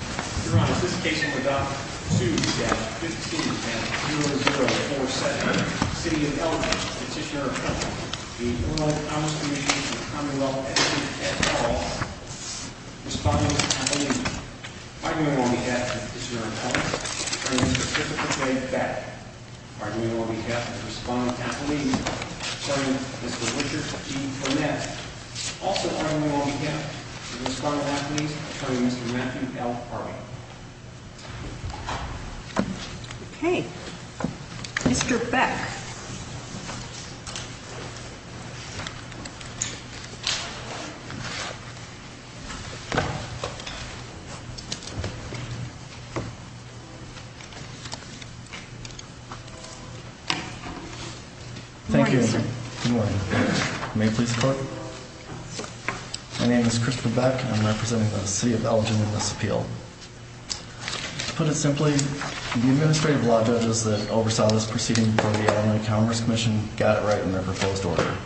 2-15-0047, City of Elgin, Petitioner of Elgin, v. Illinois Commerce Commission, Commonwealth, v. Ed Hall, Respondent, Appalachia. Arguing on behalf of Petitioner of Elgin, Attorney, Mr. Christopher K. Batten. Arguing on behalf of Respondent, Appalachia, Attorney, Mr. Richard E. Burnett. Also arguing on behalf of Respondent, Appalachia, Attorney, Mr. Matthew L. Harvey. Okay, Mr. Beck. Good morning, sir. Good morning. May it please the Court? My name is Christopher Beck, and I'm representing the City of Elgin in this appeal. To put it simply, the administrative law judges that oversaw this proceeding before the Illinois Commerce Commission got it right in their proposed order.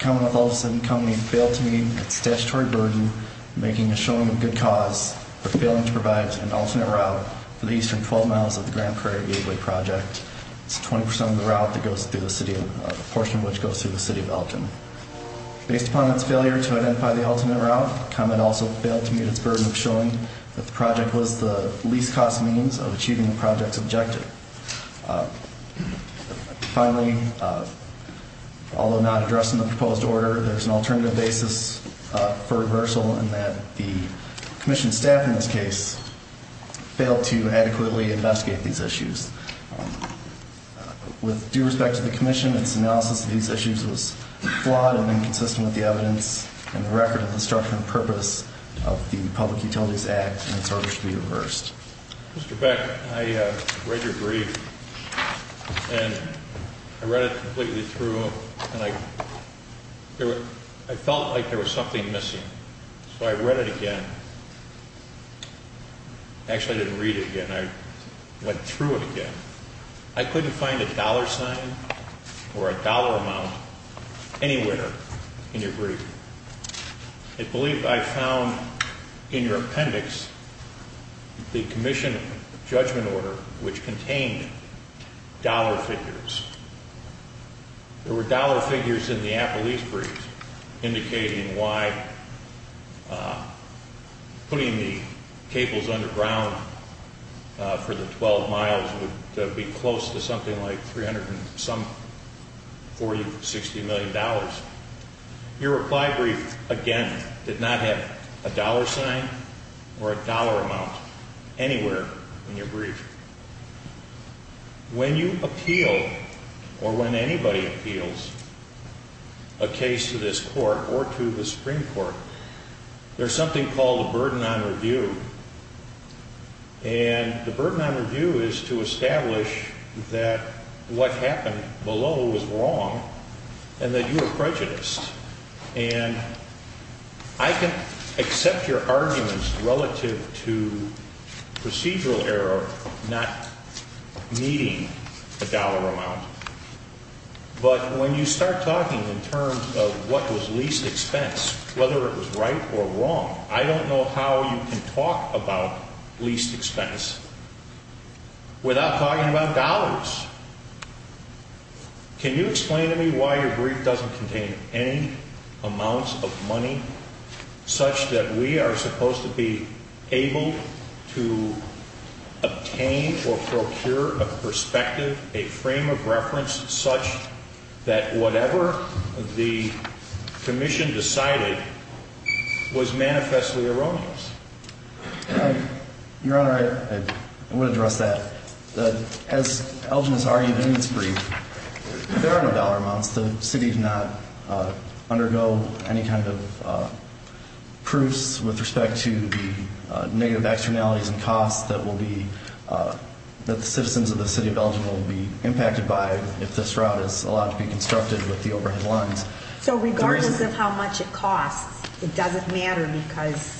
Commonwealth, all of a sudden, commonly failed to meet its statutory burden, making a showing of good cause for failing to provide an alternate route for the eastern 12 miles of the Grand Prairie Gateway Project. It's 20% of the route that goes through the city, a portion of which goes through the City of Elgin. Based upon its failure to identify the alternate route, Commonwealth also failed to meet its burden of showing that the project was the least cost means of achieving the project's objective. Finally, although not addressed in the proposed order, there's an alternative basis for reversal in that the Commission staff in this case failed to adequately investigate these issues. With due respect to the Commission, its analysis of these issues was flawed and inconsistent with the evidence and the record of the structure and purpose of the Public Utilities Act, and its order should be reversed. Mr. Beck, I read your brief, and I read it completely through, and I felt like there was something missing, so I read it again. Actually, I didn't read it again. I went through it again. I couldn't find a dollar sign or a dollar amount anywhere in your brief. I believe I found in your appendix the Commission judgment order, which contained dollar figures. There were dollar figures in the Apple East brief indicating why putting the cables underground for the 12 miles would be close to something like $360 million. Your reply brief, again, did not have a dollar sign or a dollar amount anywhere in your brief. When you appeal, or when anybody appeals a case to this Court or to the Supreme Court, there's something called a burden on review, and the burden on review is to establish that what happened below was wrong and that you were prejudiced. And I can accept your arguments relative to procedural error, not needing a dollar amount, but when you start talking in terms of what was least expense, whether it was right or wrong, I don't know how you can talk about least expense without talking about dollars. Can you explain to me why your brief doesn't contain any amounts of money such that we are supposed to be able to obtain or procure a perspective, a frame of reference, such that whatever the Commission decided was manifestly erroneous? Your Honor, I would address that. As Elgin has argued in his brief, there are no dollar amounts. The City does not undergo any kind of proofs with respect to the negative externalities and costs that the citizens of the City of Elgin will be impacted by if this route is allowed to be constructed with the overhead lines. So regardless of how much it costs, it doesn't matter because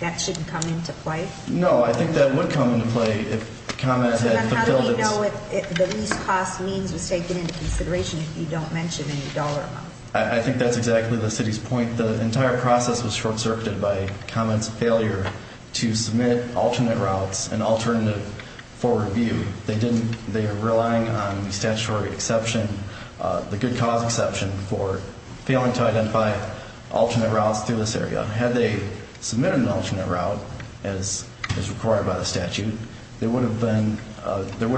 that shouldn't come into play? No, I think that would come into play if comments had fulfilled its... So then how do we know if the least cost means was taken into consideration if you don't mention any dollar amounts? I think that's exactly the City's point. The entire process was short-circuited by comments of failure to submit alternate routes and alternative forward view. They are relying on the statutory exception, the good cause exception, for failing to identify alternate routes through this area. Had they submitted an alternate route as required by the statute, there would have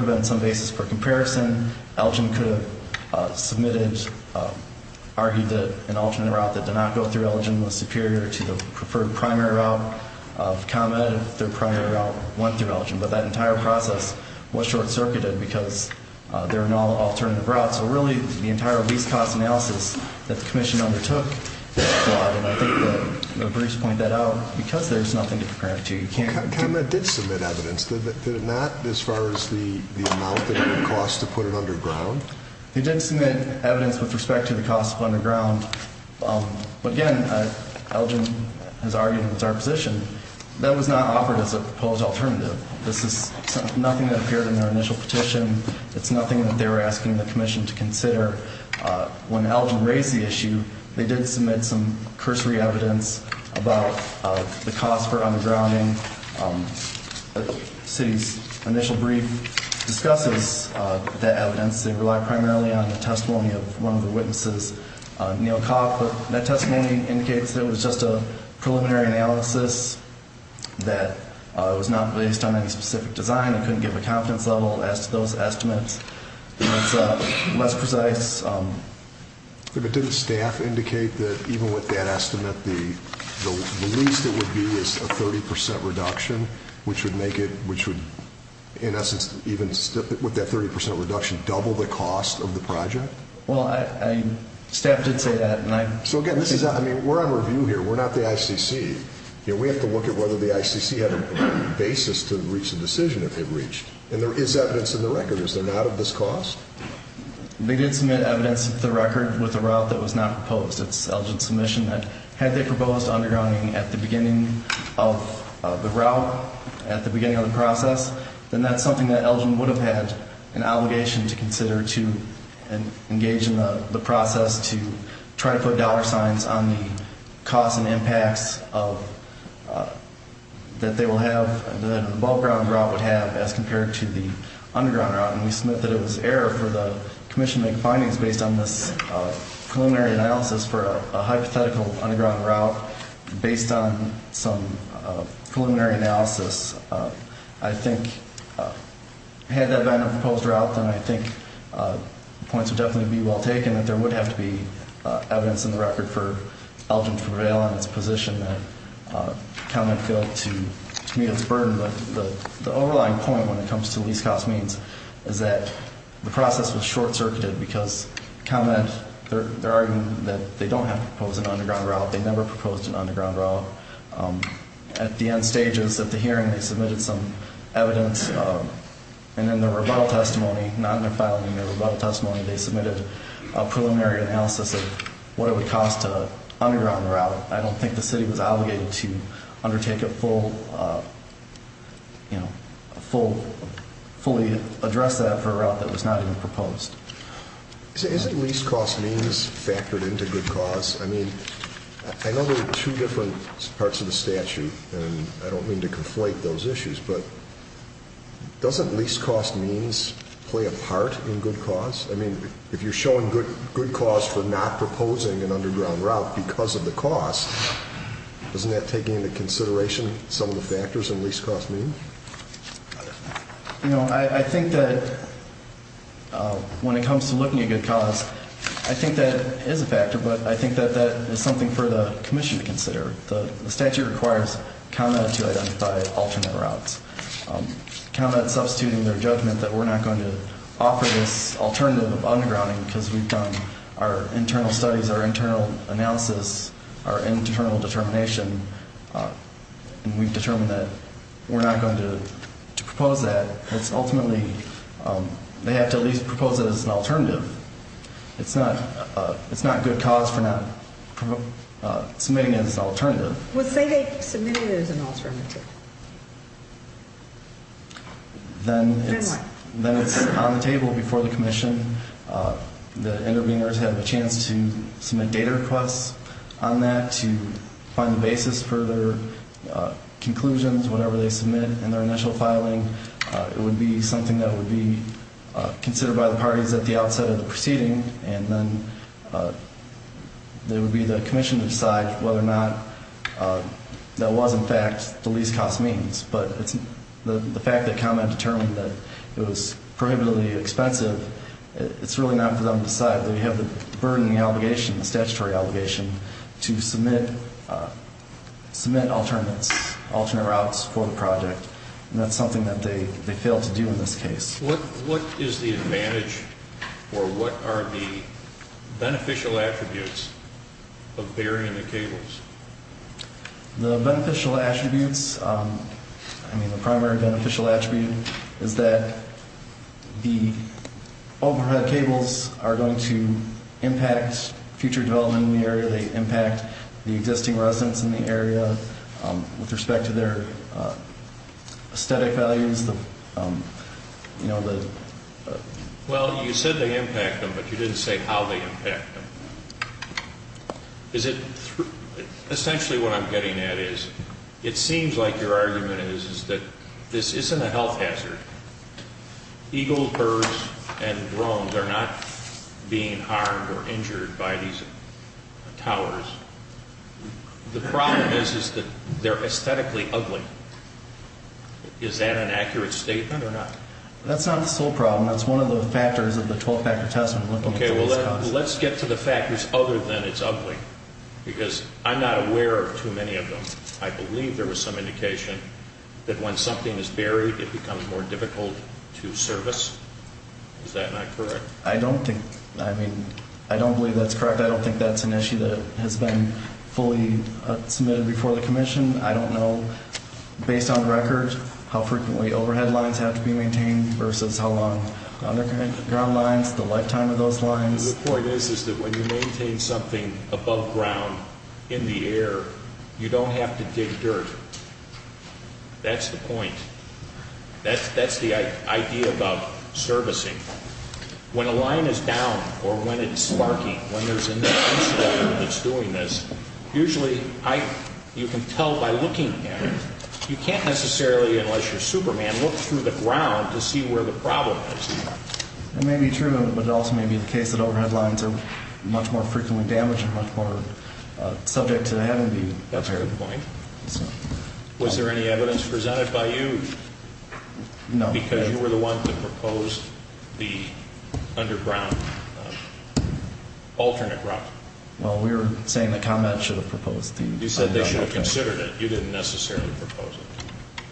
been some basis for comparison. Elgin could have submitted, argued that an alternate route that did not go through Elgin was superior to the preferred primary route of comment if their primary route went through Elgin. But that entire process was short-circuited because there are no alternative routes. So really, the entire least cost analysis that the Commission undertook was flawed. And I think that Bruce pointed that out because there's nothing to compare it to. Comment did submit evidence. Did it not as far as the amount that it would cost to put it underground? It did submit evidence with respect to the cost of underground. But again, Elgin has argued it's our position. That was not offered as a proposed alternative. This is nothing that appeared in their initial petition. It's nothing that they were asking the Commission to consider. When Elgin raised the issue, they did submit some cursory evidence about the cost for undergrounding. The City's initial brief discusses that evidence. They rely primarily on the testimony of one of the witnesses, Neal Kopp. But that testimony indicates that it was just a preliminary analysis, that it was not based on any specific design. It couldn't give a confidence level as to those estimates. It's less precise. Didn't staff indicate that even with that estimate, the least it would be is a 30% reduction, which would make it, in essence, even with that 30% reduction, double the cost of the project? Well, staff did say that. So again, we're on review here. We're not the ICC. We have to look at whether the ICC had a basis to reach a decision that they've reached. And there is evidence in the record. Is there not of this cost? They did submit evidence to the record with a route that was not proposed. It's Elgin's submission that had they proposed undergrounding at the beginning of the route, at the beginning of the process, then that's something that Elgin would have had an obligation to consider to engage in the process to try to put dollar signs on the costs and impacts that they will have, that an above-ground route would have as compared to the underground route. And we submit that it was error for the commission to make findings based on this preliminary analysis for a hypothetical underground route based on some preliminary analysis. I think had that been a proposed route, then I think points would definitely be well taken that there would have to be evidence in the record for Elgin to prevail on its position that the county had failed to meet its burden. The overlying point when it comes to least-cost means is that the process was short-circuited because they're arguing that they don't have to propose an underground route. They never proposed an underground route. At the end stages of the hearing, they submitted some evidence. And in their rebuttal testimony, not in their filing, their rebuttal testimony, they submitted a preliminary analysis of what it would cost to underground the route. I don't think the city was obligated to undertake a full, you know, fully address that for a route that was not even proposed. Isn't least-cost means factored into good cause? I mean, I know there are two different parts of the statute, and I don't mean to conflate those issues, but doesn't least-cost means play a part in good cause? I mean, if you're showing good cause for not proposing an underground route because of the cost, doesn't that take into consideration some of the factors in least-cost means? You know, I think that when it comes to looking at good cause, I think that is a factor, but I think that that is something for the commission to consider. The statute requires the county to identify alternate routes, kind of substituting their judgment that we're not going to offer this alternative of undergrounding because we've done our internal studies, our internal analysis, our internal determination, and we've determined that we're not going to propose that. It's ultimately they have to at least propose it as an alternative. It's not good cause for not submitting it as an alternative. Well, say they submit it as an alternative. Then what? Then it's on the table before the commission. The interveners have a chance to submit data requests on that to find the basis for their conclusions, whatever they submit in their initial filing. It would be something that would be considered by the parties at the outset of the proceeding, and then it would be the commission to decide whether or not that was, in fact, the least-cost means. But the fact that ComEd determined that it was prohibitively expensive, it's really not for them to decide. They have the burden, the obligation, the statutory obligation to submit alternate routes for the project, and that's something that they failed to do in this case. What is the advantage or what are the beneficial attributes of burying the cables? The beneficial attributes, I mean the primary beneficial attribute, is that the overhead cables are going to impact future development in the area. They impact the existing residents in the area with respect to their aesthetic values, you know, the... Well, you said they impact them, but you didn't say how they impact them. Is it through... Essentially what I'm getting at is it seems like your argument is that this isn't a health hazard. Eagles, birds, and drones are not being harmed or injured by these towers. The problem is that they're aesthetically ugly. Is that an accurate statement or not? That's not the sole problem. That's one of the factors of the 12-factor test. Okay, well, let's get to the factors other than it's ugly because I'm not aware of too many of them. I believe there was some indication that when something is buried, it becomes more difficult to service. Is that not correct? I don't think, I mean, I don't believe that's correct. I don't think that's an issue that has been fully submitted before the commission. I don't know, based on record, how frequently overhead lines have to be maintained versus how long underground lines, the lifetime of those lines. The point is that when you maintain something above ground in the air, you don't have to dig dirt. That's the point. That's the idea about servicing. When a line is down or when it's sparking, when there's an incident that's doing this, usually you can tell by looking at it. You can't necessarily, unless you're a superman, look through the ground to see where the problem is. That may be true, but it also may be the case that overhead lines are much more frequently damaged and much more subject to having to be repaired. That's a good point. Was there any evidence presented by you? No. Because you were the one that proposed the underground alternate route. Well, we were saying that ComEd should have proposed the underground alternative. You said they should have considered it. You didn't necessarily propose it.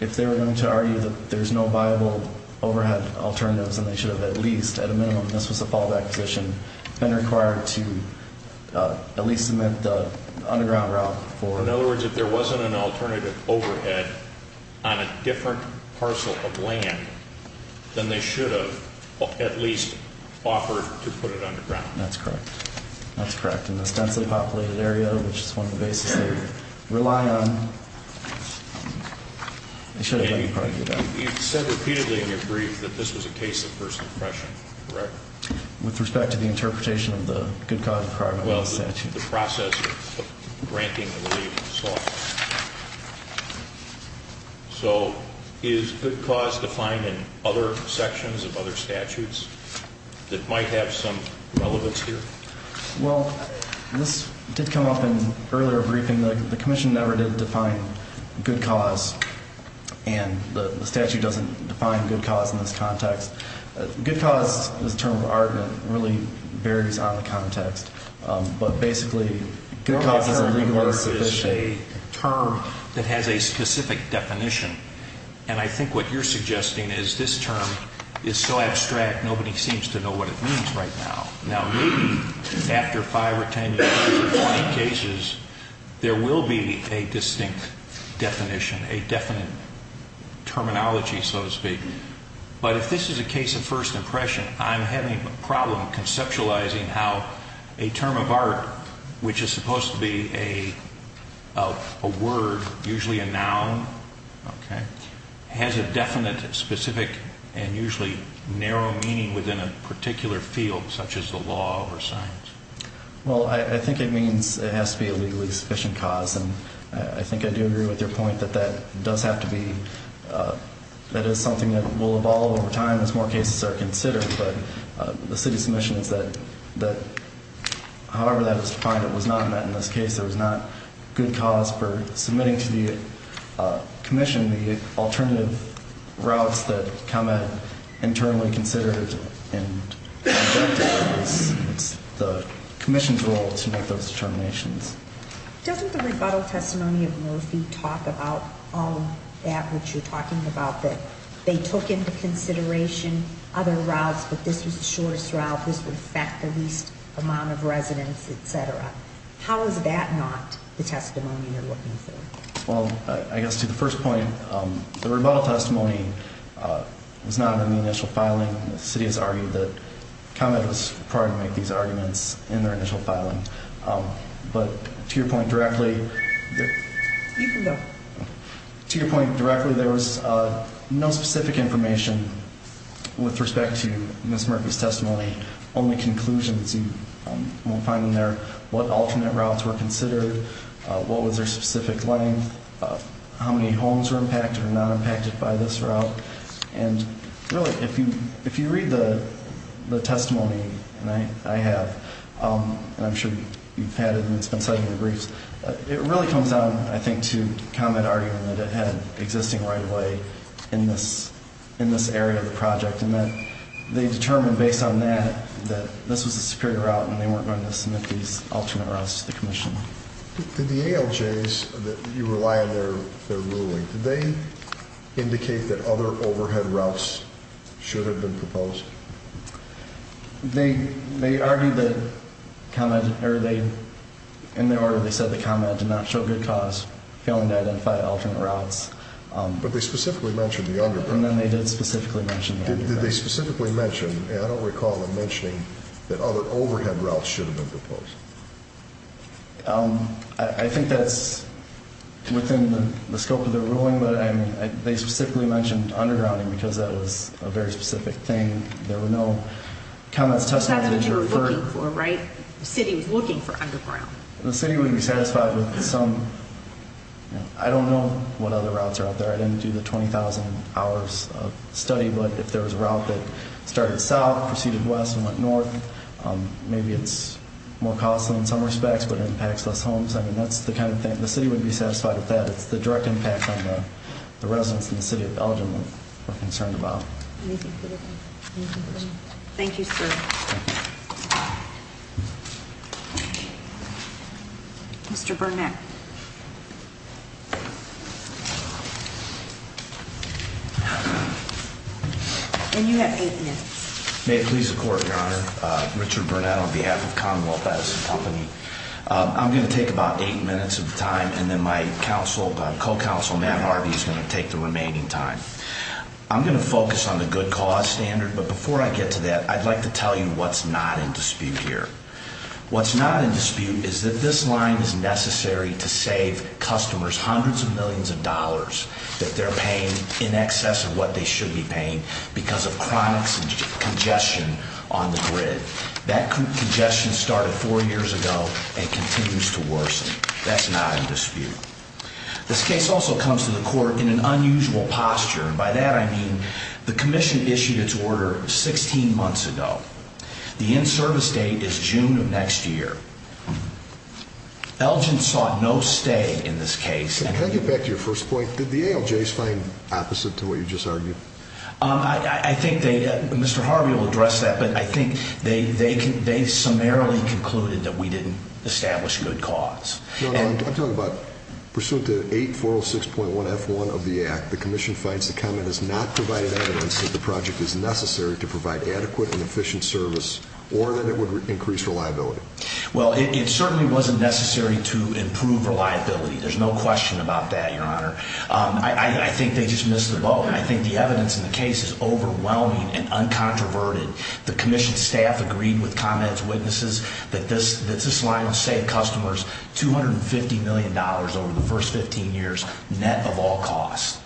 If they were going to argue that there's no viable overhead alternatives, then they should have at least, at a minimum, this was a fallback position, been required to at least submit the underground route for it. In other words, if there wasn't an alternative overhead on a different parcel of land, then they should have at least offered to put it underground. That's correct. That's correct. In this densely populated area, which is one of the bases they rely on, they should have let you correct your doubt. You've said repeatedly in your brief that this was a case of first impression, correct? With respect to the interpretation of the good cause requirement in the statute. Well, the process of granting the relief and so on. So is good cause defined in other sections of other statutes that might have some relevance here? Well, this did come up in earlier briefing. The commission never did define good cause, and the statute doesn't define good cause in this context. Good cause is a term of art that really varies on the context, but basically good cause is a term that has a specific definition, and I think what you're suggesting is this term is so abstract, nobody seems to know what it means right now. Now, maybe after five or ten years or 20 cases, there will be a distinct definition, a definite terminology, so to speak, but if this is a case of first impression, I'm having a problem conceptualizing how a term of art, which is supposed to be a word, usually a noun, has a definite, specific, and usually narrow meaning within a particular field, such as the law or science. Well, I think it means it has to be a legally sufficient cause, and I think I do agree with your point that that does have to be, that is something that will evolve over time as more cases are considered, but the city's submission is that however that was defined, it was not met in this case. There was not good cause for submitting to the commission the alternative routes that come at internally considered, and it's the commission's role to make those determinations. Doesn't the rebuttal testimony of Murphy talk about all that which you're talking about, that they took into consideration other routes, but this was the shortest route, this would affect the least amount of residents, et cetera? How is that not the testimony you're looking for? Well, I guess to the first point, the rebuttal testimony was not in the initial filing. The city has argued that comment was required to make these arguments in their initial filing, but to your point directly, there was no specific information with respect to Ms. Murphy's testimony, only conclusions you will find in there, what alternate routes were considered, what was their specific length, how many homes were impacted or not impacted by this route, and really, if you read the testimony I have, and I'm sure you've had it and it's been cited in the briefs, it really comes down, I think, to comment arguing that it had existing right-of-way in this area of the project, and that they determined based on that that this was the superior route and they weren't going to submit these alternate routes to the commission. Did the ALJs that you rely on their ruling, did they indicate that other overhead routes should have been proposed? They argued that comment, or in their order they said the comment did not show good cause, failing to identify alternate routes. But they specifically mentioned the underpass. And then they did specifically mention the underpass. Did they specifically mention, and I don't recall them mentioning, that other overhead routes should have been proposed? I think that's within the scope of their ruling. But they specifically mentioned undergrounding because that was a very specific thing. There were no comments, testimonies. That's what you were looking for, right? The city was looking for underground. The city would be satisfied with some. I don't know what other routes are out there. I didn't do the 20,000 hours of study, but if there was a route that started south, proceeded west, and went north, maybe it's more costly in some respects but impacts less homes. I mean, that's the kind of thing. The city would be satisfied with that. It's the direct impact on the residents in the city of Belgium that we're concerned about. Anything further? Thank you, sir. Mr. Burnett. And you have eight minutes. May it please the Court, Your Honor. Richard Burnett on behalf of Commonwealth Medicine Company. I'm going to take about eight minutes of time, and then my co-counsel, Matt Harvey, is going to take the remaining time. I'm going to focus on the good cause standard, but before I get to that, I'd like to tell you what's not in dispute here. What's not in dispute is that this line is necessary to save customers hundreds of millions of dollars that they're paying in excess of what they should be paying because of chronic congestion on the grid. That congestion started four years ago and continues to worsen. That's not in dispute. This case also comes to the Court in an unusual posture, and by that I mean the commission issued its order 16 months ago. The end service date is June of next year. Elgin saw no stay in this case. Can I get back to your first point? Did the ALJs find opposite to what you just argued? I think they, Mr. Harvey will address that, but I think they summarily concluded that we didn't establish good cause. I'm talking about pursuant to 8406.1F1 of the Act, the commission finds the comment has not provided evidence that the project is necessary to provide adequate and efficient service or that it would increase reliability. Well, it certainly wasn't necessary to improve reliability. There's no question about that, Your Honor. I think they just missed the boat. I think the evidence in the case is overwhelming and uncontroverted. The commission staff agreed with comments, witnesses, that this line will save customers $250 million over the first 15 years, net of all costs.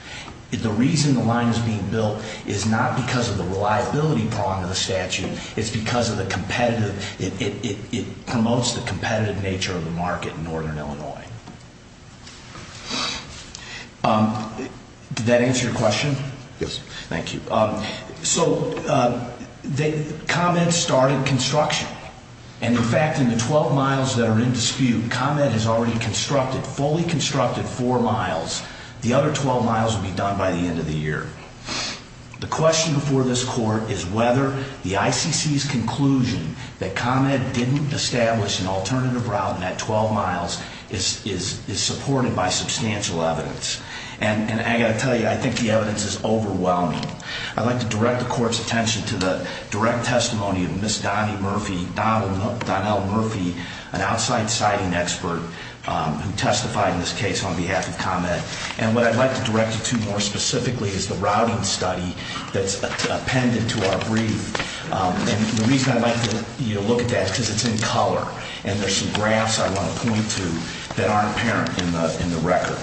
The reason the line is being built is not because of the reliability prong of the statute. It's because of the competitive, it promotes the competitive nature of the market in northern Illinois. Did that answer your question? Yes. Thank you. So, the comment started construction. And, in fact, in the 12 miles that are in dispute, comment has already constructed, fully constructed four miles. The other 12 miles will be done by the end of the year. The question before this court is whether the ICC's conclusion that comment didn't establish an alternative route in that 12 miles is supported by substantial evidence. And I've got to tell you, I think the evidence is overwhelming. I'd like to direct the court's attention to the direct testimony of Ms. Donnell Murphy, an outside siting expert who testified in this case on behalf of comment. And what I'd like to direct you to more specifically is the routing study that's appended to our brief. And the reason I'd like you to look at that is because it's in color. And there's some graphs I want to point to that aren't apparent in the record.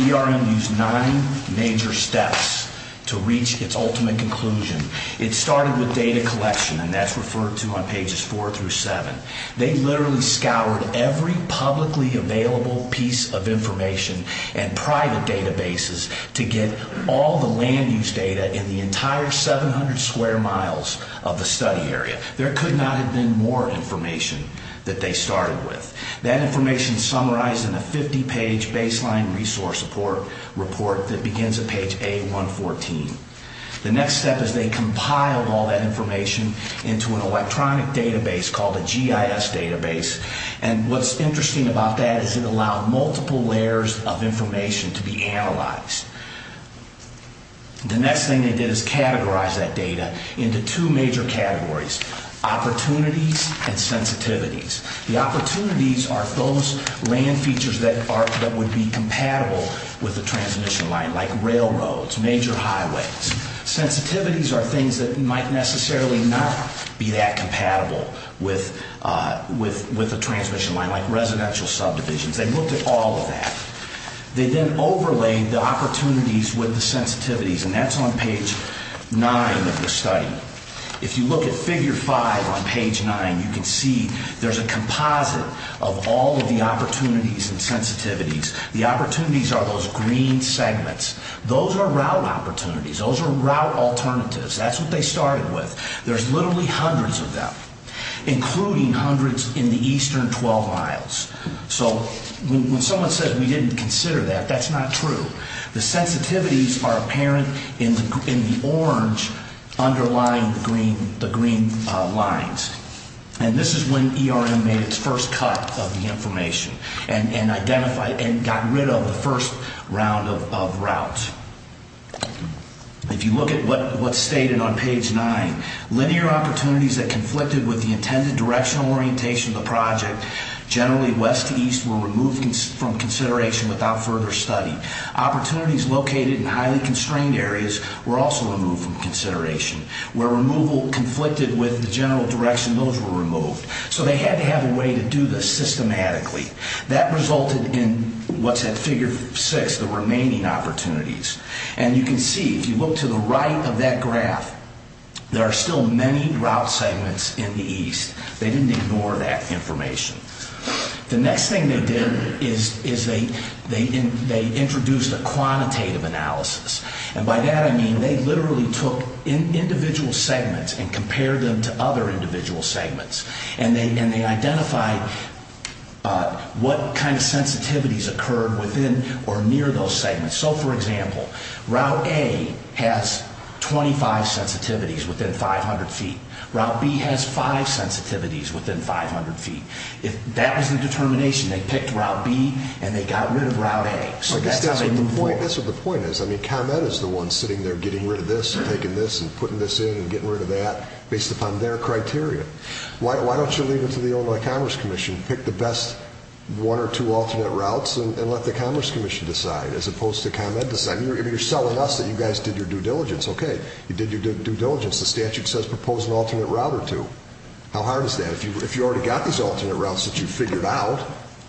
ERM used nine major steps to reach its ultimate conclusion. It started with data collection, and that's referred to on pages four through seven. They literally scoured every publicly available piece of information and private databases to get all the land use data in the entire 700 square miles of the study area. There could not have been more information that they started with. That information is summarized in a 50-page baseline resource report that begins at page A114. The next step is they compiled all that information into an electronic database called a GIS database. And what's interesting about that is it allowed multiple layers of information to be analyzed. The next thing they did is categorize that data into two major categories, opportunities and sensitivities. The opportunities are those land features that would be compatible with the transmission line, like railroads, major highways. Sensitivities are things that might necessarily not be that compatible with the transmission line, like residential subdivisions. They looked at all of that. They then overlaid the opportunities with the sensitivities, and that's on page nine of the study. If you look at figure five on page nine, you can see there's a composite of all of the opportunities and sensitivities. The opportunities are those green segments. Those are route opportunities. Those are route alternatives. That's what they started with. There's literally hundreds of them, including hundreds in the eastern 12 miles. So when someone says we didn't consider that, that's not true. The sensitivities are apparent in the orange underlying the green lines. And this is when ERM made its first cut of the information and identified and got rid of the first round of routes. If you look at what's stated on page nine, linear opportunities that conflicted with the intended directional orientation of the project, generally west to east, were removed from consideration without further study. Opportunities located in highly constrained areas were also removed from consideration. Where removal conflicted with the general direction, those were removed. So they had to have a way to do this systematically. That resulted in what's at figure six, the remaining opportunities. And you can see, if you look to the right of that graph, there are still many route segments in the east. They didn't ignore that information. The next thing they did is they introduced a quantitative analysis. And by that I mean they literally took individual segments and compared them to other individual segments. And they identified what kind of sensitivities occurred within or near those segments. So, for example, Route A has 25 sensitivities within 500 feet. Route B has five sensitivities within 500 feet. If that was the determination, they picked Route B and they got rid of Route A. So that's how they moved forward. That's what the point is. I mean, ComEd is the one sitting there getting rid of this and taking this and putting this in and getting rid of that based upon their criteria. Why don't you leave it to the Illinois Commerce Commission? Pick the best one or two alternate routes and let the Commerce Commission decide as opposed to ComEd deciding. You're selling us that you guys did your due diligence. Okay, you did your due diligence. The statute says propose an alternate route or two. How hard is that? If you already got these alternate routes that you figured out,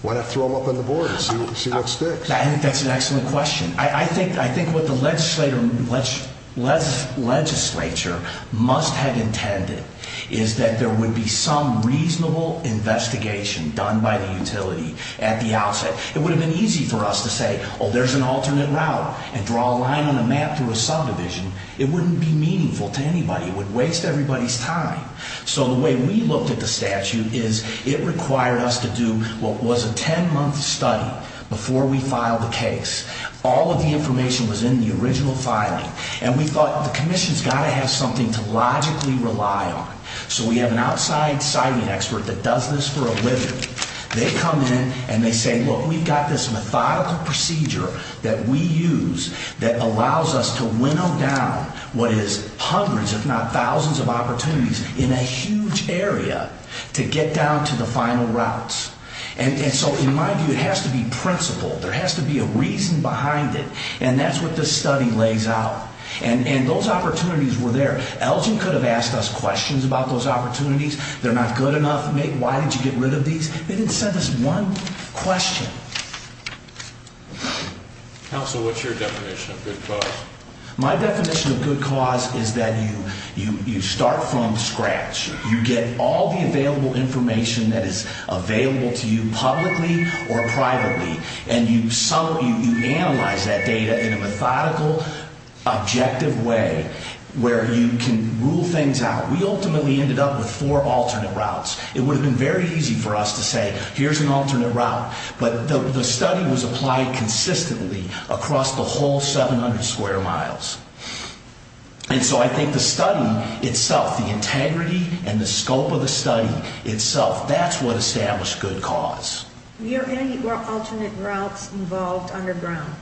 why not throw them up on the board and see what sticks? That's an excellent question. I think what the legislature must have intended is that there would be some reasonable investigation done by the utility at the outset. It would have been easy for us to say, oh, there's an alternate route and draw a line on a map through a subdivision. It wouldn't be meaningful to anybody. It would waste everybody's time. So the way we looked at the statute is it required us to do what was a 10-month study before we filed the case. All of the information was in the original filing, and we thought the commission's got to have something to logically rely on. So we have an outside siting expert that does this for a living. They come in and they say, look, we've got this methodical procedure that we use that allows us to winnow down what is hundreds, if not thousands of opportunities in a huge area to get down to the final routes. And so in my view, it has to be principled. There has to be a reason behind it, and that's what this study lays out. And those opportunities were there. Elgin could have asked us questions about those opportunities. They're not good enough. Why did you get rid of these? They didn't send us one question. Counsel, what's your definition of good cause? My definition of good cause is that you start from scratch. You get all the available information that is available to you publicly or privately, and you analyze that data in a methodical, objective way where you can rule things out. We ultimately ended up with four alternate routes. It would have been very easy for us to say, here's an alternate route, but the study was applied consistently across the whole 700 square miles. And so I think the study itself, the integrity and the scope of the study itself, that's what established good cause. Were any alternate routes involved underground?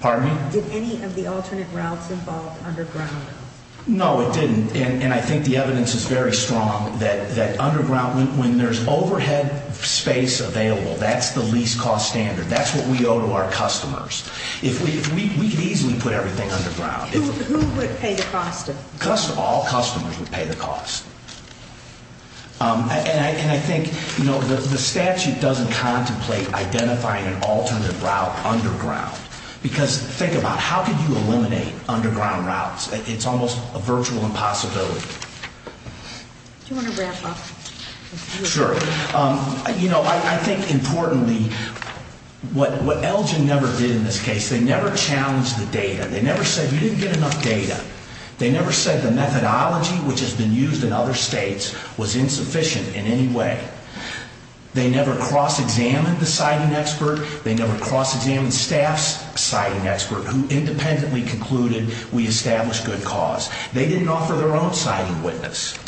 Pardon me? Did any of the alternate routes involve underground routes? No, it didn't. And I think the evidence is very strong that underground, when there's overhead space available, that's the least cost standard. That's what we owe to our customers. We could easily put everything underground. Who would pay the cost of it? All customers would pay the cost. And I think the statute doesn't contemplate identifying an alternate route underground. Because think about how could you eliminate underground routes? It's almost a virtual impossibility. Do you want to wrap up? Sure. You know, I think importantly, what Elgin never did in this case, they never challenged the data. They never said you didn't get enough data. They never said the methodology, which has been used in other states, was insufficient in any way. They never cross-examined the siting expert. They never cross-examined staff's siting expert who independently concluded we established good cause. They didn't offer their own siting witness.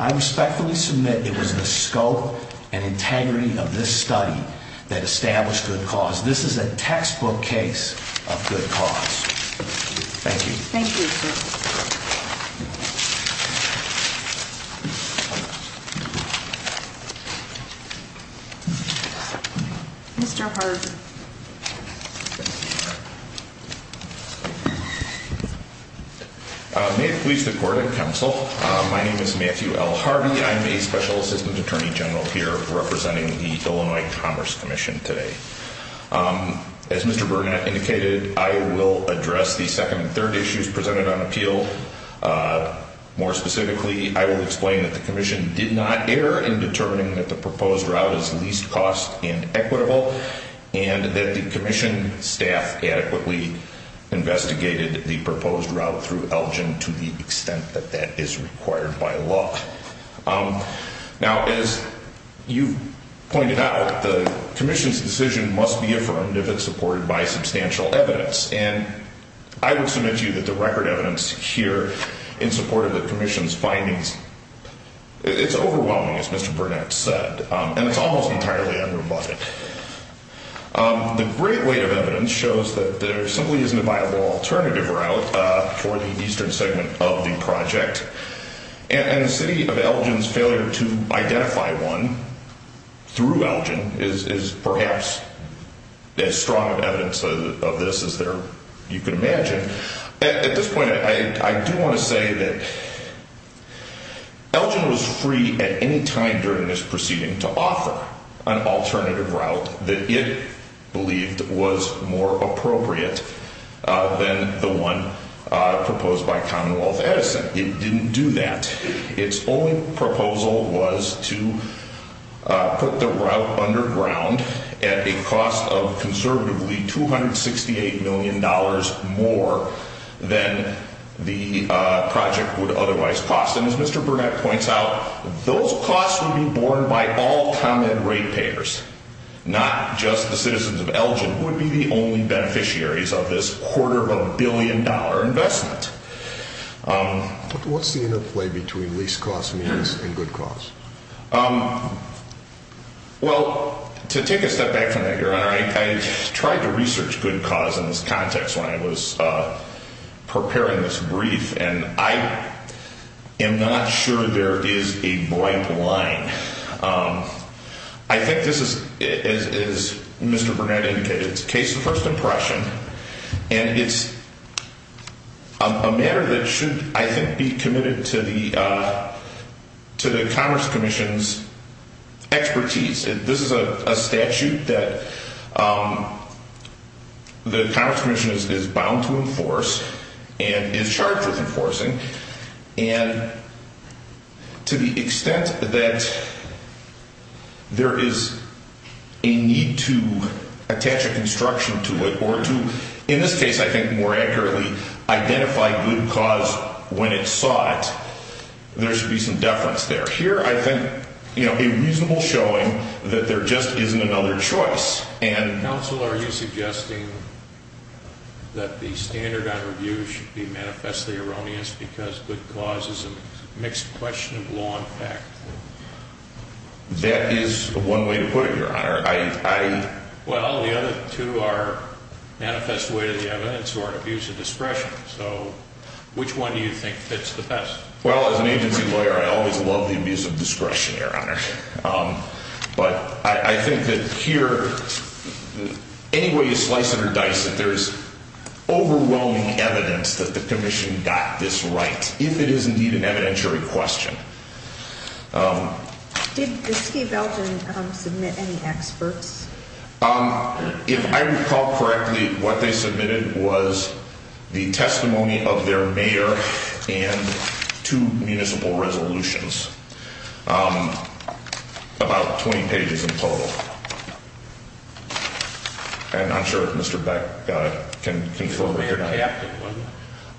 I respectfully submit it was the scope and integrity of this study that established good cause. This is a textbook case of good cause. Thank you. Thank you, sir. Thank you. Mr. Harvey. May it please the court and counsel, my name is Matthew L. Harvey. I'm a special assistant attorney general here representing the Illinois Commerce Commission today. As Mr. Burnett indicated, I will address the second and third issues presented on appeal. More specifically, I will explain that the commission did not err in determining that the proposed route is least cost and equitable and that the commission staff adequately investigated the proposed route through Elgin to the extent that that is required by law. Now, as you pointed out, the commission's decision must be affirmed if it's supported by substantial evidence. And I would submit to you that the record evidence here in support of the commission's findings, it's overwhelming, as Mr. Burnett said. And it's almost entirely unrebutted. The great weight of evidence shows that there simply isn't a viable alternative route for the eastern segment of the project. And the city of Elgin's failure to identify one through Elgin is perhaps as strong of evidence of this as you can imagine. At this point, I do want to say that Elgin was free at any time during this proceeding to offer an alternative route that it believed was more appropriate than the one proposed by Commonwealth Edison. It didn't do that. Its only proposal was to put the route underground at a cost of conservatively $268 million more than the project would otherwise cost. And as Mr. Burnett points out, those costs would be borne by all common rate payers, not just the citizens of Elgin, but would be the only beneficiaries of this quarter of a billion dollar investment. What's the interplay between least cost means and good cause? Well, to take a step back from that, Your Honor, I tried to research good cause in this context when I was preparing this brief. And I am not sure there is a bright line. I think this is, as Mr. Burnett indicated, it's a case of first impression. And it's a matter that should, I think, be committed to the Commerce Commission's expertise. This is a statute that the Commerce Commission is bound to enforce and is charged with enforcing. And to the extent that there is a need to attach a construction to it or to, in this case, I think more accurately, identify good cause when it's sought, there should be some deference there. Here, I think, you know, a reasonable showing that there just isn't another choice. Counsel, are you suggesting that the standard on review should be manifestly erroneous because good cause is a mixed question of law and fact? That is one way to put it, Your Honor. Well, the other two are manifest way to the evidence or an abuse of discretion. So which one do you think fits the best? Well, as an agency lawyer, I always love the abuse of discretion, Your Honor. But I think that here, any way you slice it or dice it, there is overwhelming evidence that the Commission got this right, if it is indeed an evidentiary question. Did the State of Belgium submit any experts? If I recall correctly, what they submitted was the testimony of their mayor and two municipal resolutions. About 20 pages in total. And I'm sure Mr. Beck can fill that out.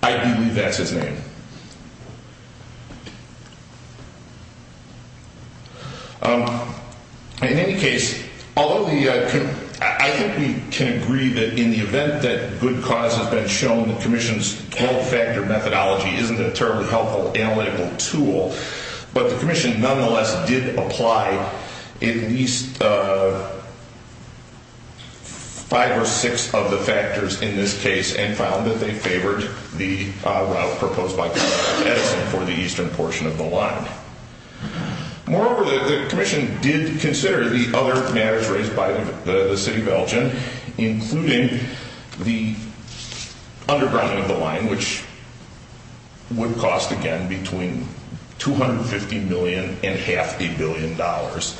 I believe that's his name. In any case, although I think we can agree that in the event that good cause has been shown, the Commission's 12-factor methodology isn't a terribly helpful analytical tool. But the Commission nonetheless did apply at least five or six of the factors in this case and found that they favored the route proposed by Congressman Edison for the eastern portion of the line. Moreover, the Commission did consider the other matters raised by the City of Belgium, including the undergrounding of the line, which would cost, again, between $250 million and half a billion dollars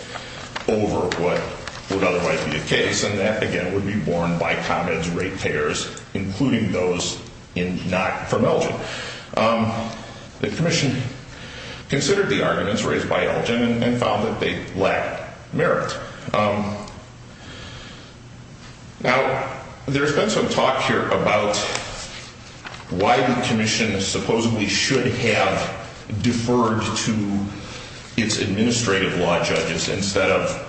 over what would otherwise be the case. And that, again, would be borne by ComEd's rate payers, including those not from Belgium. The Commission considered the arguments raised by Belgium and found that they lacked merit. Now, there's been some talk here about why the Commission supposedly should have deferred to its administrative law judges instead of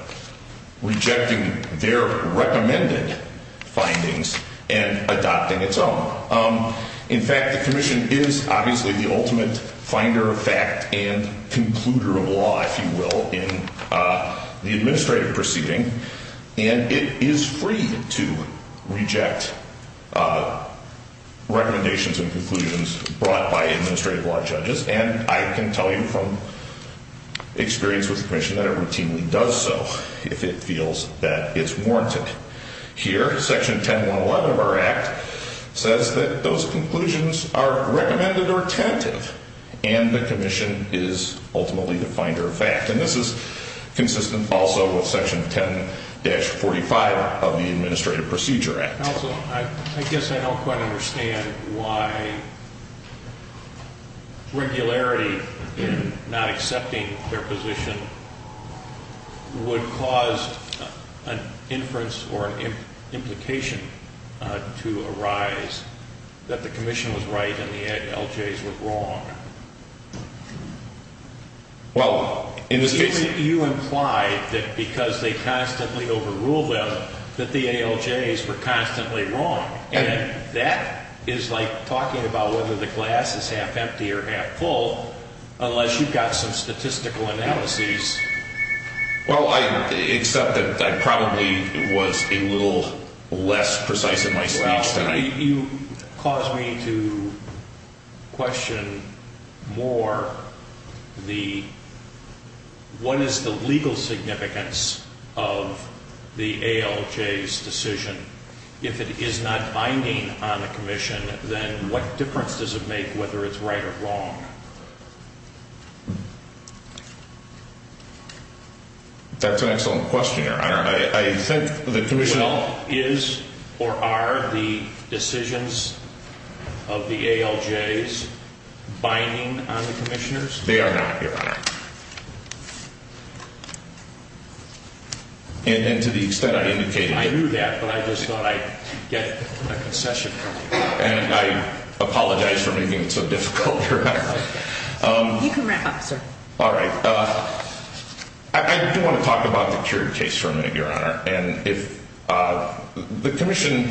rejecting their recommended findings and adopting its own. In fact, the Commission is obviously the ultimate finder of fact and concluder of law, if you will, in the administrative proceeding. And it is free to reject recommendations and conclusions brought by administrative law judges. And I can tell you from experience with the Commission that it routinely does so if it feels that it's warranted. Here, Section 10111 of our Act says that those conclusions are recommended or tentative and the Commission is ultimately the finder of fact. And this is consistent also with Section 10-45 of the Administrative Procedure Act. Counsel, I guess I don't quite understand why regularity in not accepting their position would cause an inference or an implication to arise that the Commission was right and the ALJs were wrong. Well, in this case... You implied that because they constantly overrule them that the ALJs were constantly wrong. And that is like talking about whether the glass is half empty or half full unless you've got some statistical analyses. Well, except that I probably was a little less precise in my speech than I... It would cause me to question more the... What is the legal significance of the ALJ's decision? If it is not binding on the Commission, then what difference does it make whether it's right or wrong? That's an excellent question, Your Honor. Well, is or are the decisions of the ALJs binding on the Commissioners? They are not, Your Honor. And to the extent I indicated... I knew that, but I just thought I'd get a concession from you. And I apologize for making it so difficult, Your Honor. You can wrap up, sir. All right. I do want to talk about the Curie case for a minute, Your Honor. And if the Commission...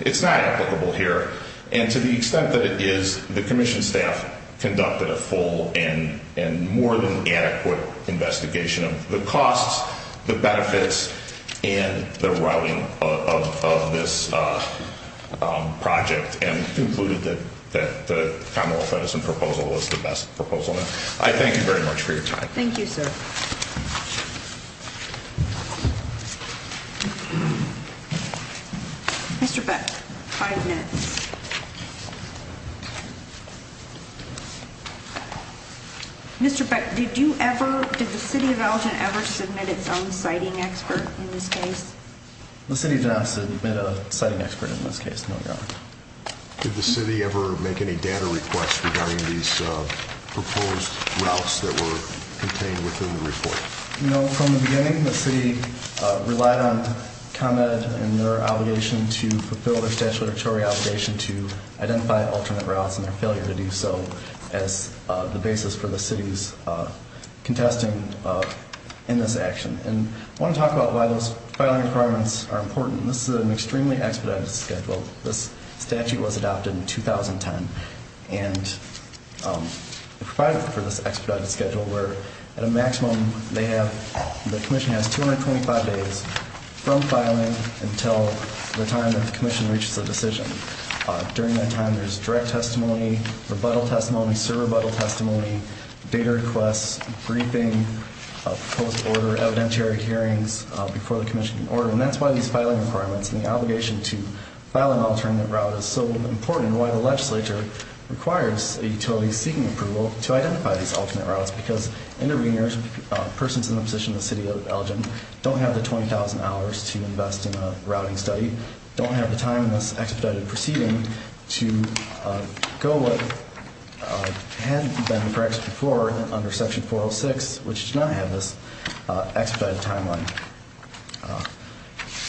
It's not applicable here. And to the extent that it is, the Commission staff conducted a full and more than adequate investigation of the costs, the benefits, and the routing of this project. And concluded that the Commonwealth Edison proposal was the best proposal. I thank you very much for your time. Thank you, sir. Mr. Beck, five minutes. Mr. Beck, did you ever... Did the City of Elgin ever submit its own citing expert in this case? The City did not submit a citing expert in this case, no, Your Honor. Did the City ever make any data requests regarding these proposed routes that were contained within the report? No. From the beginning, the City relied on ComEd and their obligation to fulfill their statutory obligation to identify alternate routes, and their failure to do so as the basis for the City's contesting in this action. And I want to talk about why those filing requirements are important. This is an extremely expedited schedule. This statute was adopted in 2010. And it provided for this expedited schedule where, at a maximum, they have... The Commission has 225 days from filing until the time that the Commission reaches a decision. During that time, there's direct testimony, rebuttal testimony, sub-rebuttal testimony, data requests, briefing, proposed order, evidentiary hearings before the Commission can order. And that's why these filing requirements and the obligation to file an alternate route is so important, and why the legislature requires a utility seeking approval to identify these alternate routes, because interveners, persons in the position of the City of Elgin, don't have the 20,000 hours to invest in a routing study, don't have the time in this expedited proceeding to go what had been corrected before under Section 406, which does not have this expedited timeline.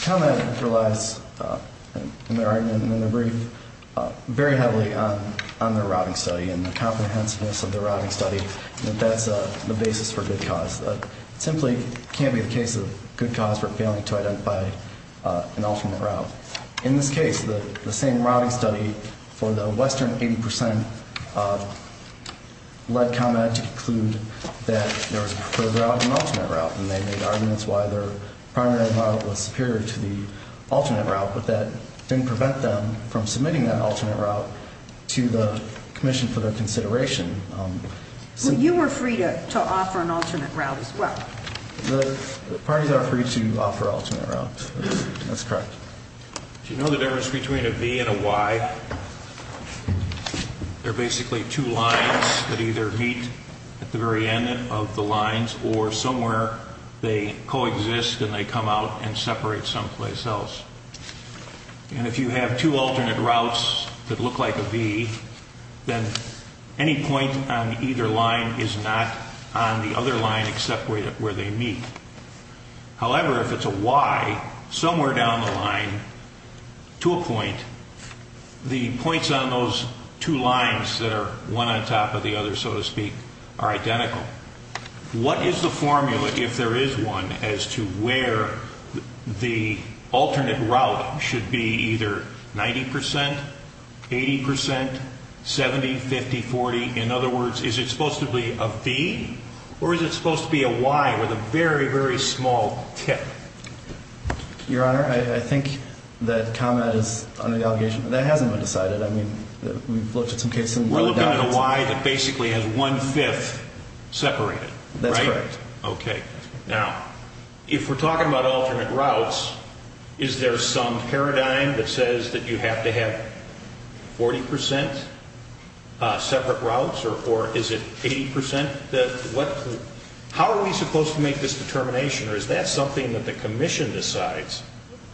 ComEd relies, in their argument and in their brief, very heavily on their routing study and the comprehensiveness of their routing study, and that that's the basis for good cause. It simply can't be the case of good cause for failing to identify an alternate route. In this case, the same routing study for the Western 80% led ComEd to conclude that there was a preferred route and an alternate route, and they made arguments why their primary route was superior to the alternate route, but that didn't prevent them from submitting that alternate route to the Commission for their consideration. Well, you were free to offer an alternate route as well. The parties are free to offer alternate routes. That's correct. Do you know the difference between a V and a Y? They're basically two lines that either meet at the very end of the lines or somewhere they coexist and they come out and separate someplace else. And if you have two alternate routes that look like a V, then any point on either line is not on the other line except where they meet. However, if it's a Y, somewhere down the line to a point, the points on those two lines that are one on top of the other, so to speak, are identical. What is the formula, if there is one, as to where the alternate route should be either 90%, 80%, 70%, 50%, 40%? In other words, is it supposed to be a V or is it supposed to be a Y with a very, very small tip? Your Honor, I think that ComEd is under the allegation that hasn't been decided. We're looking at a Y that basically has one-fifth separated. That's correct. Okay. Now, if we're talking about alternate routes, is there some paradigm that says that you have to have 40% separate routes or is it 80%? How are we supposed to make this determination or is that something that the Commission decides?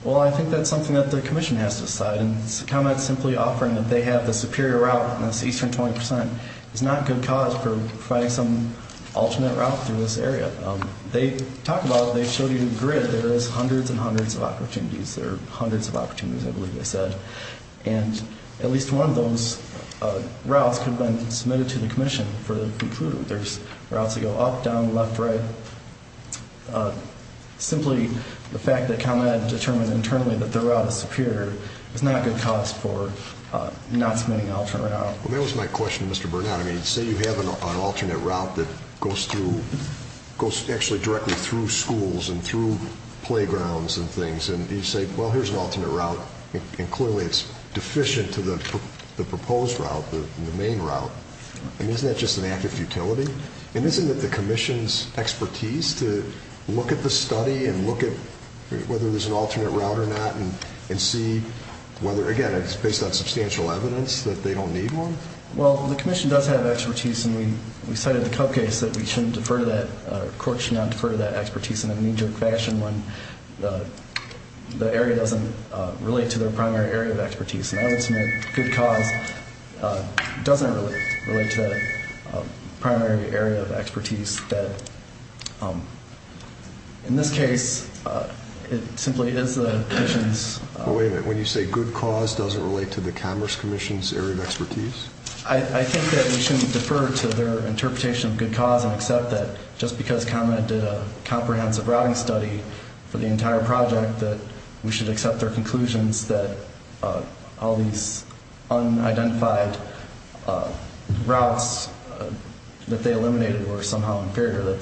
Well, I think that's something that the Commission has to decide. And ComEd simply offering that they have the superior route on this eastern 20% is not a good cause for providing some alternate route through this area. They talk about it. They've showed you the grid. There is hundreds and hundreds of opportunities. There are hundreds of opportunities, I believe they said. And at least one of those routes could have been submitted to the Commission for them to prove. There's routes that go up, down, left, right. But simply the fact that ComEd determined internally that the route is superior is not a good cause for not submitting an alternate route. Well, that was my question to Mr. Burnett. I mean, say you have an alternate route that goes through, goes actually directly through schools and through playgrounds and things, and you say, well, here's an alternate route, and clearly it's deficient to the proposed route, the main route, and isn't that just an act of futility? And isn't it the Commission's expertise to look at the study and look at whether there's an alternate route or not and see whether, again, it's based on substantial evidence that they don't need one? Well, the Commission does have expertise, and we cited the Cub case that we shouldn't defer to that, or courts should not defer to that expertise in a knee-jerk fashion when the area doesn't relate to their primary area of expertise. And I would submit good cause doesn't really relate to the primary area of expertise that, in this case, it simply is the Commission's. Wait a minute. When you say good cause, does it relate to the Commerce Commission's area of expertise? I think that we shouldn't defer to their interpretation of good cause and accept that just because ComEd did a comprehensive routing study for the entire project that we should accept their conclusions that all these unidentified routes that they eliminated were somehow inferior, that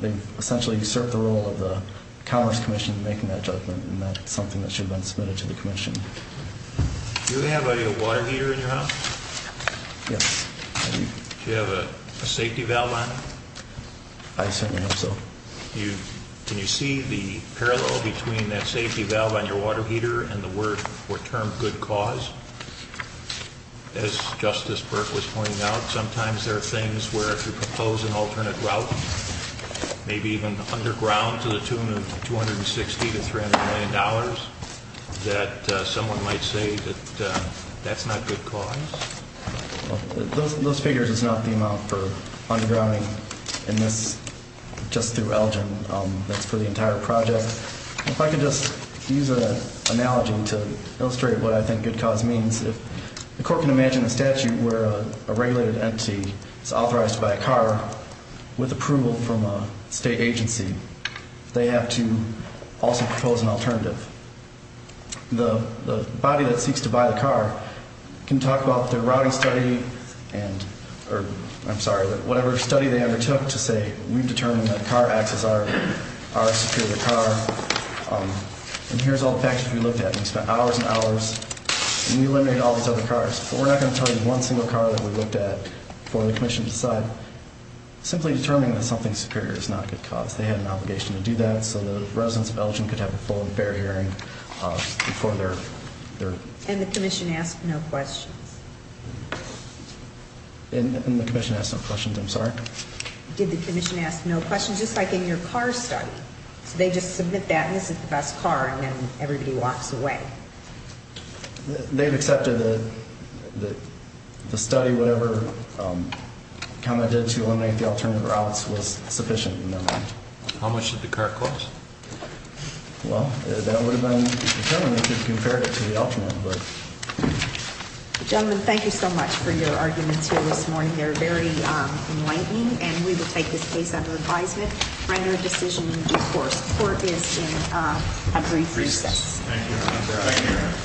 they've essentially usurped the role of the Commerce Commission in making that judgment, and that's something that should have been submitted to the Commission. Do you have a water heater in your house? Yes. Do you have a safety valve on it? I certainly hope so. Can you see the parallel between that safety valve on your water heater and the word or term good cause? As Justice Burke was pointing out, sometimes there are things where if you propose an alternate route, maybe even underground to the tune of $260 million to $300 million, that someone might say that that's not good cause. Those figures is not the amount for undergrounding in this, just through Elgin. That's for the entire project. If I could just use an analogy to illustrate what I think good cause means, if the court can imagine a statute where a regulated entity is authorized to buy a car with approval from a state agency, they have to also propose an alternative. The body that seeks to buy the car can talk about their routing study, or I'm sorry, whatever study they undertook to say we've determined that a car acts as our superior car, and here's all the factors we looked at. We spent hours and hours, and we eliminated all these other cars. But we're not going to tell you one single car that we looked at before the Commission decided, simply determining that something superior is not a good cause. They had an obligation to do that, so the residents of Elgin could have a full and fair hearing before their... And the Commission asked no questions. And the Commission asked no questions. I'm sorry? Did the Commission ask no questions, just like in your car study? So they just submit that, and this is the best car, and then everybody walks away. They've accepted that the study, whatever comment they did to eliminate the alternate routes, was sufficient in their mind. How much did the car cost? Well, that would have been determined if you compared it to the alternate, but... Gentlemen, thank you so much for your arguments here this morning. They're very enlightening, and we will take this case under advisement, render a decision in due course. Court is in a brief recess. Thank you, Your Honor.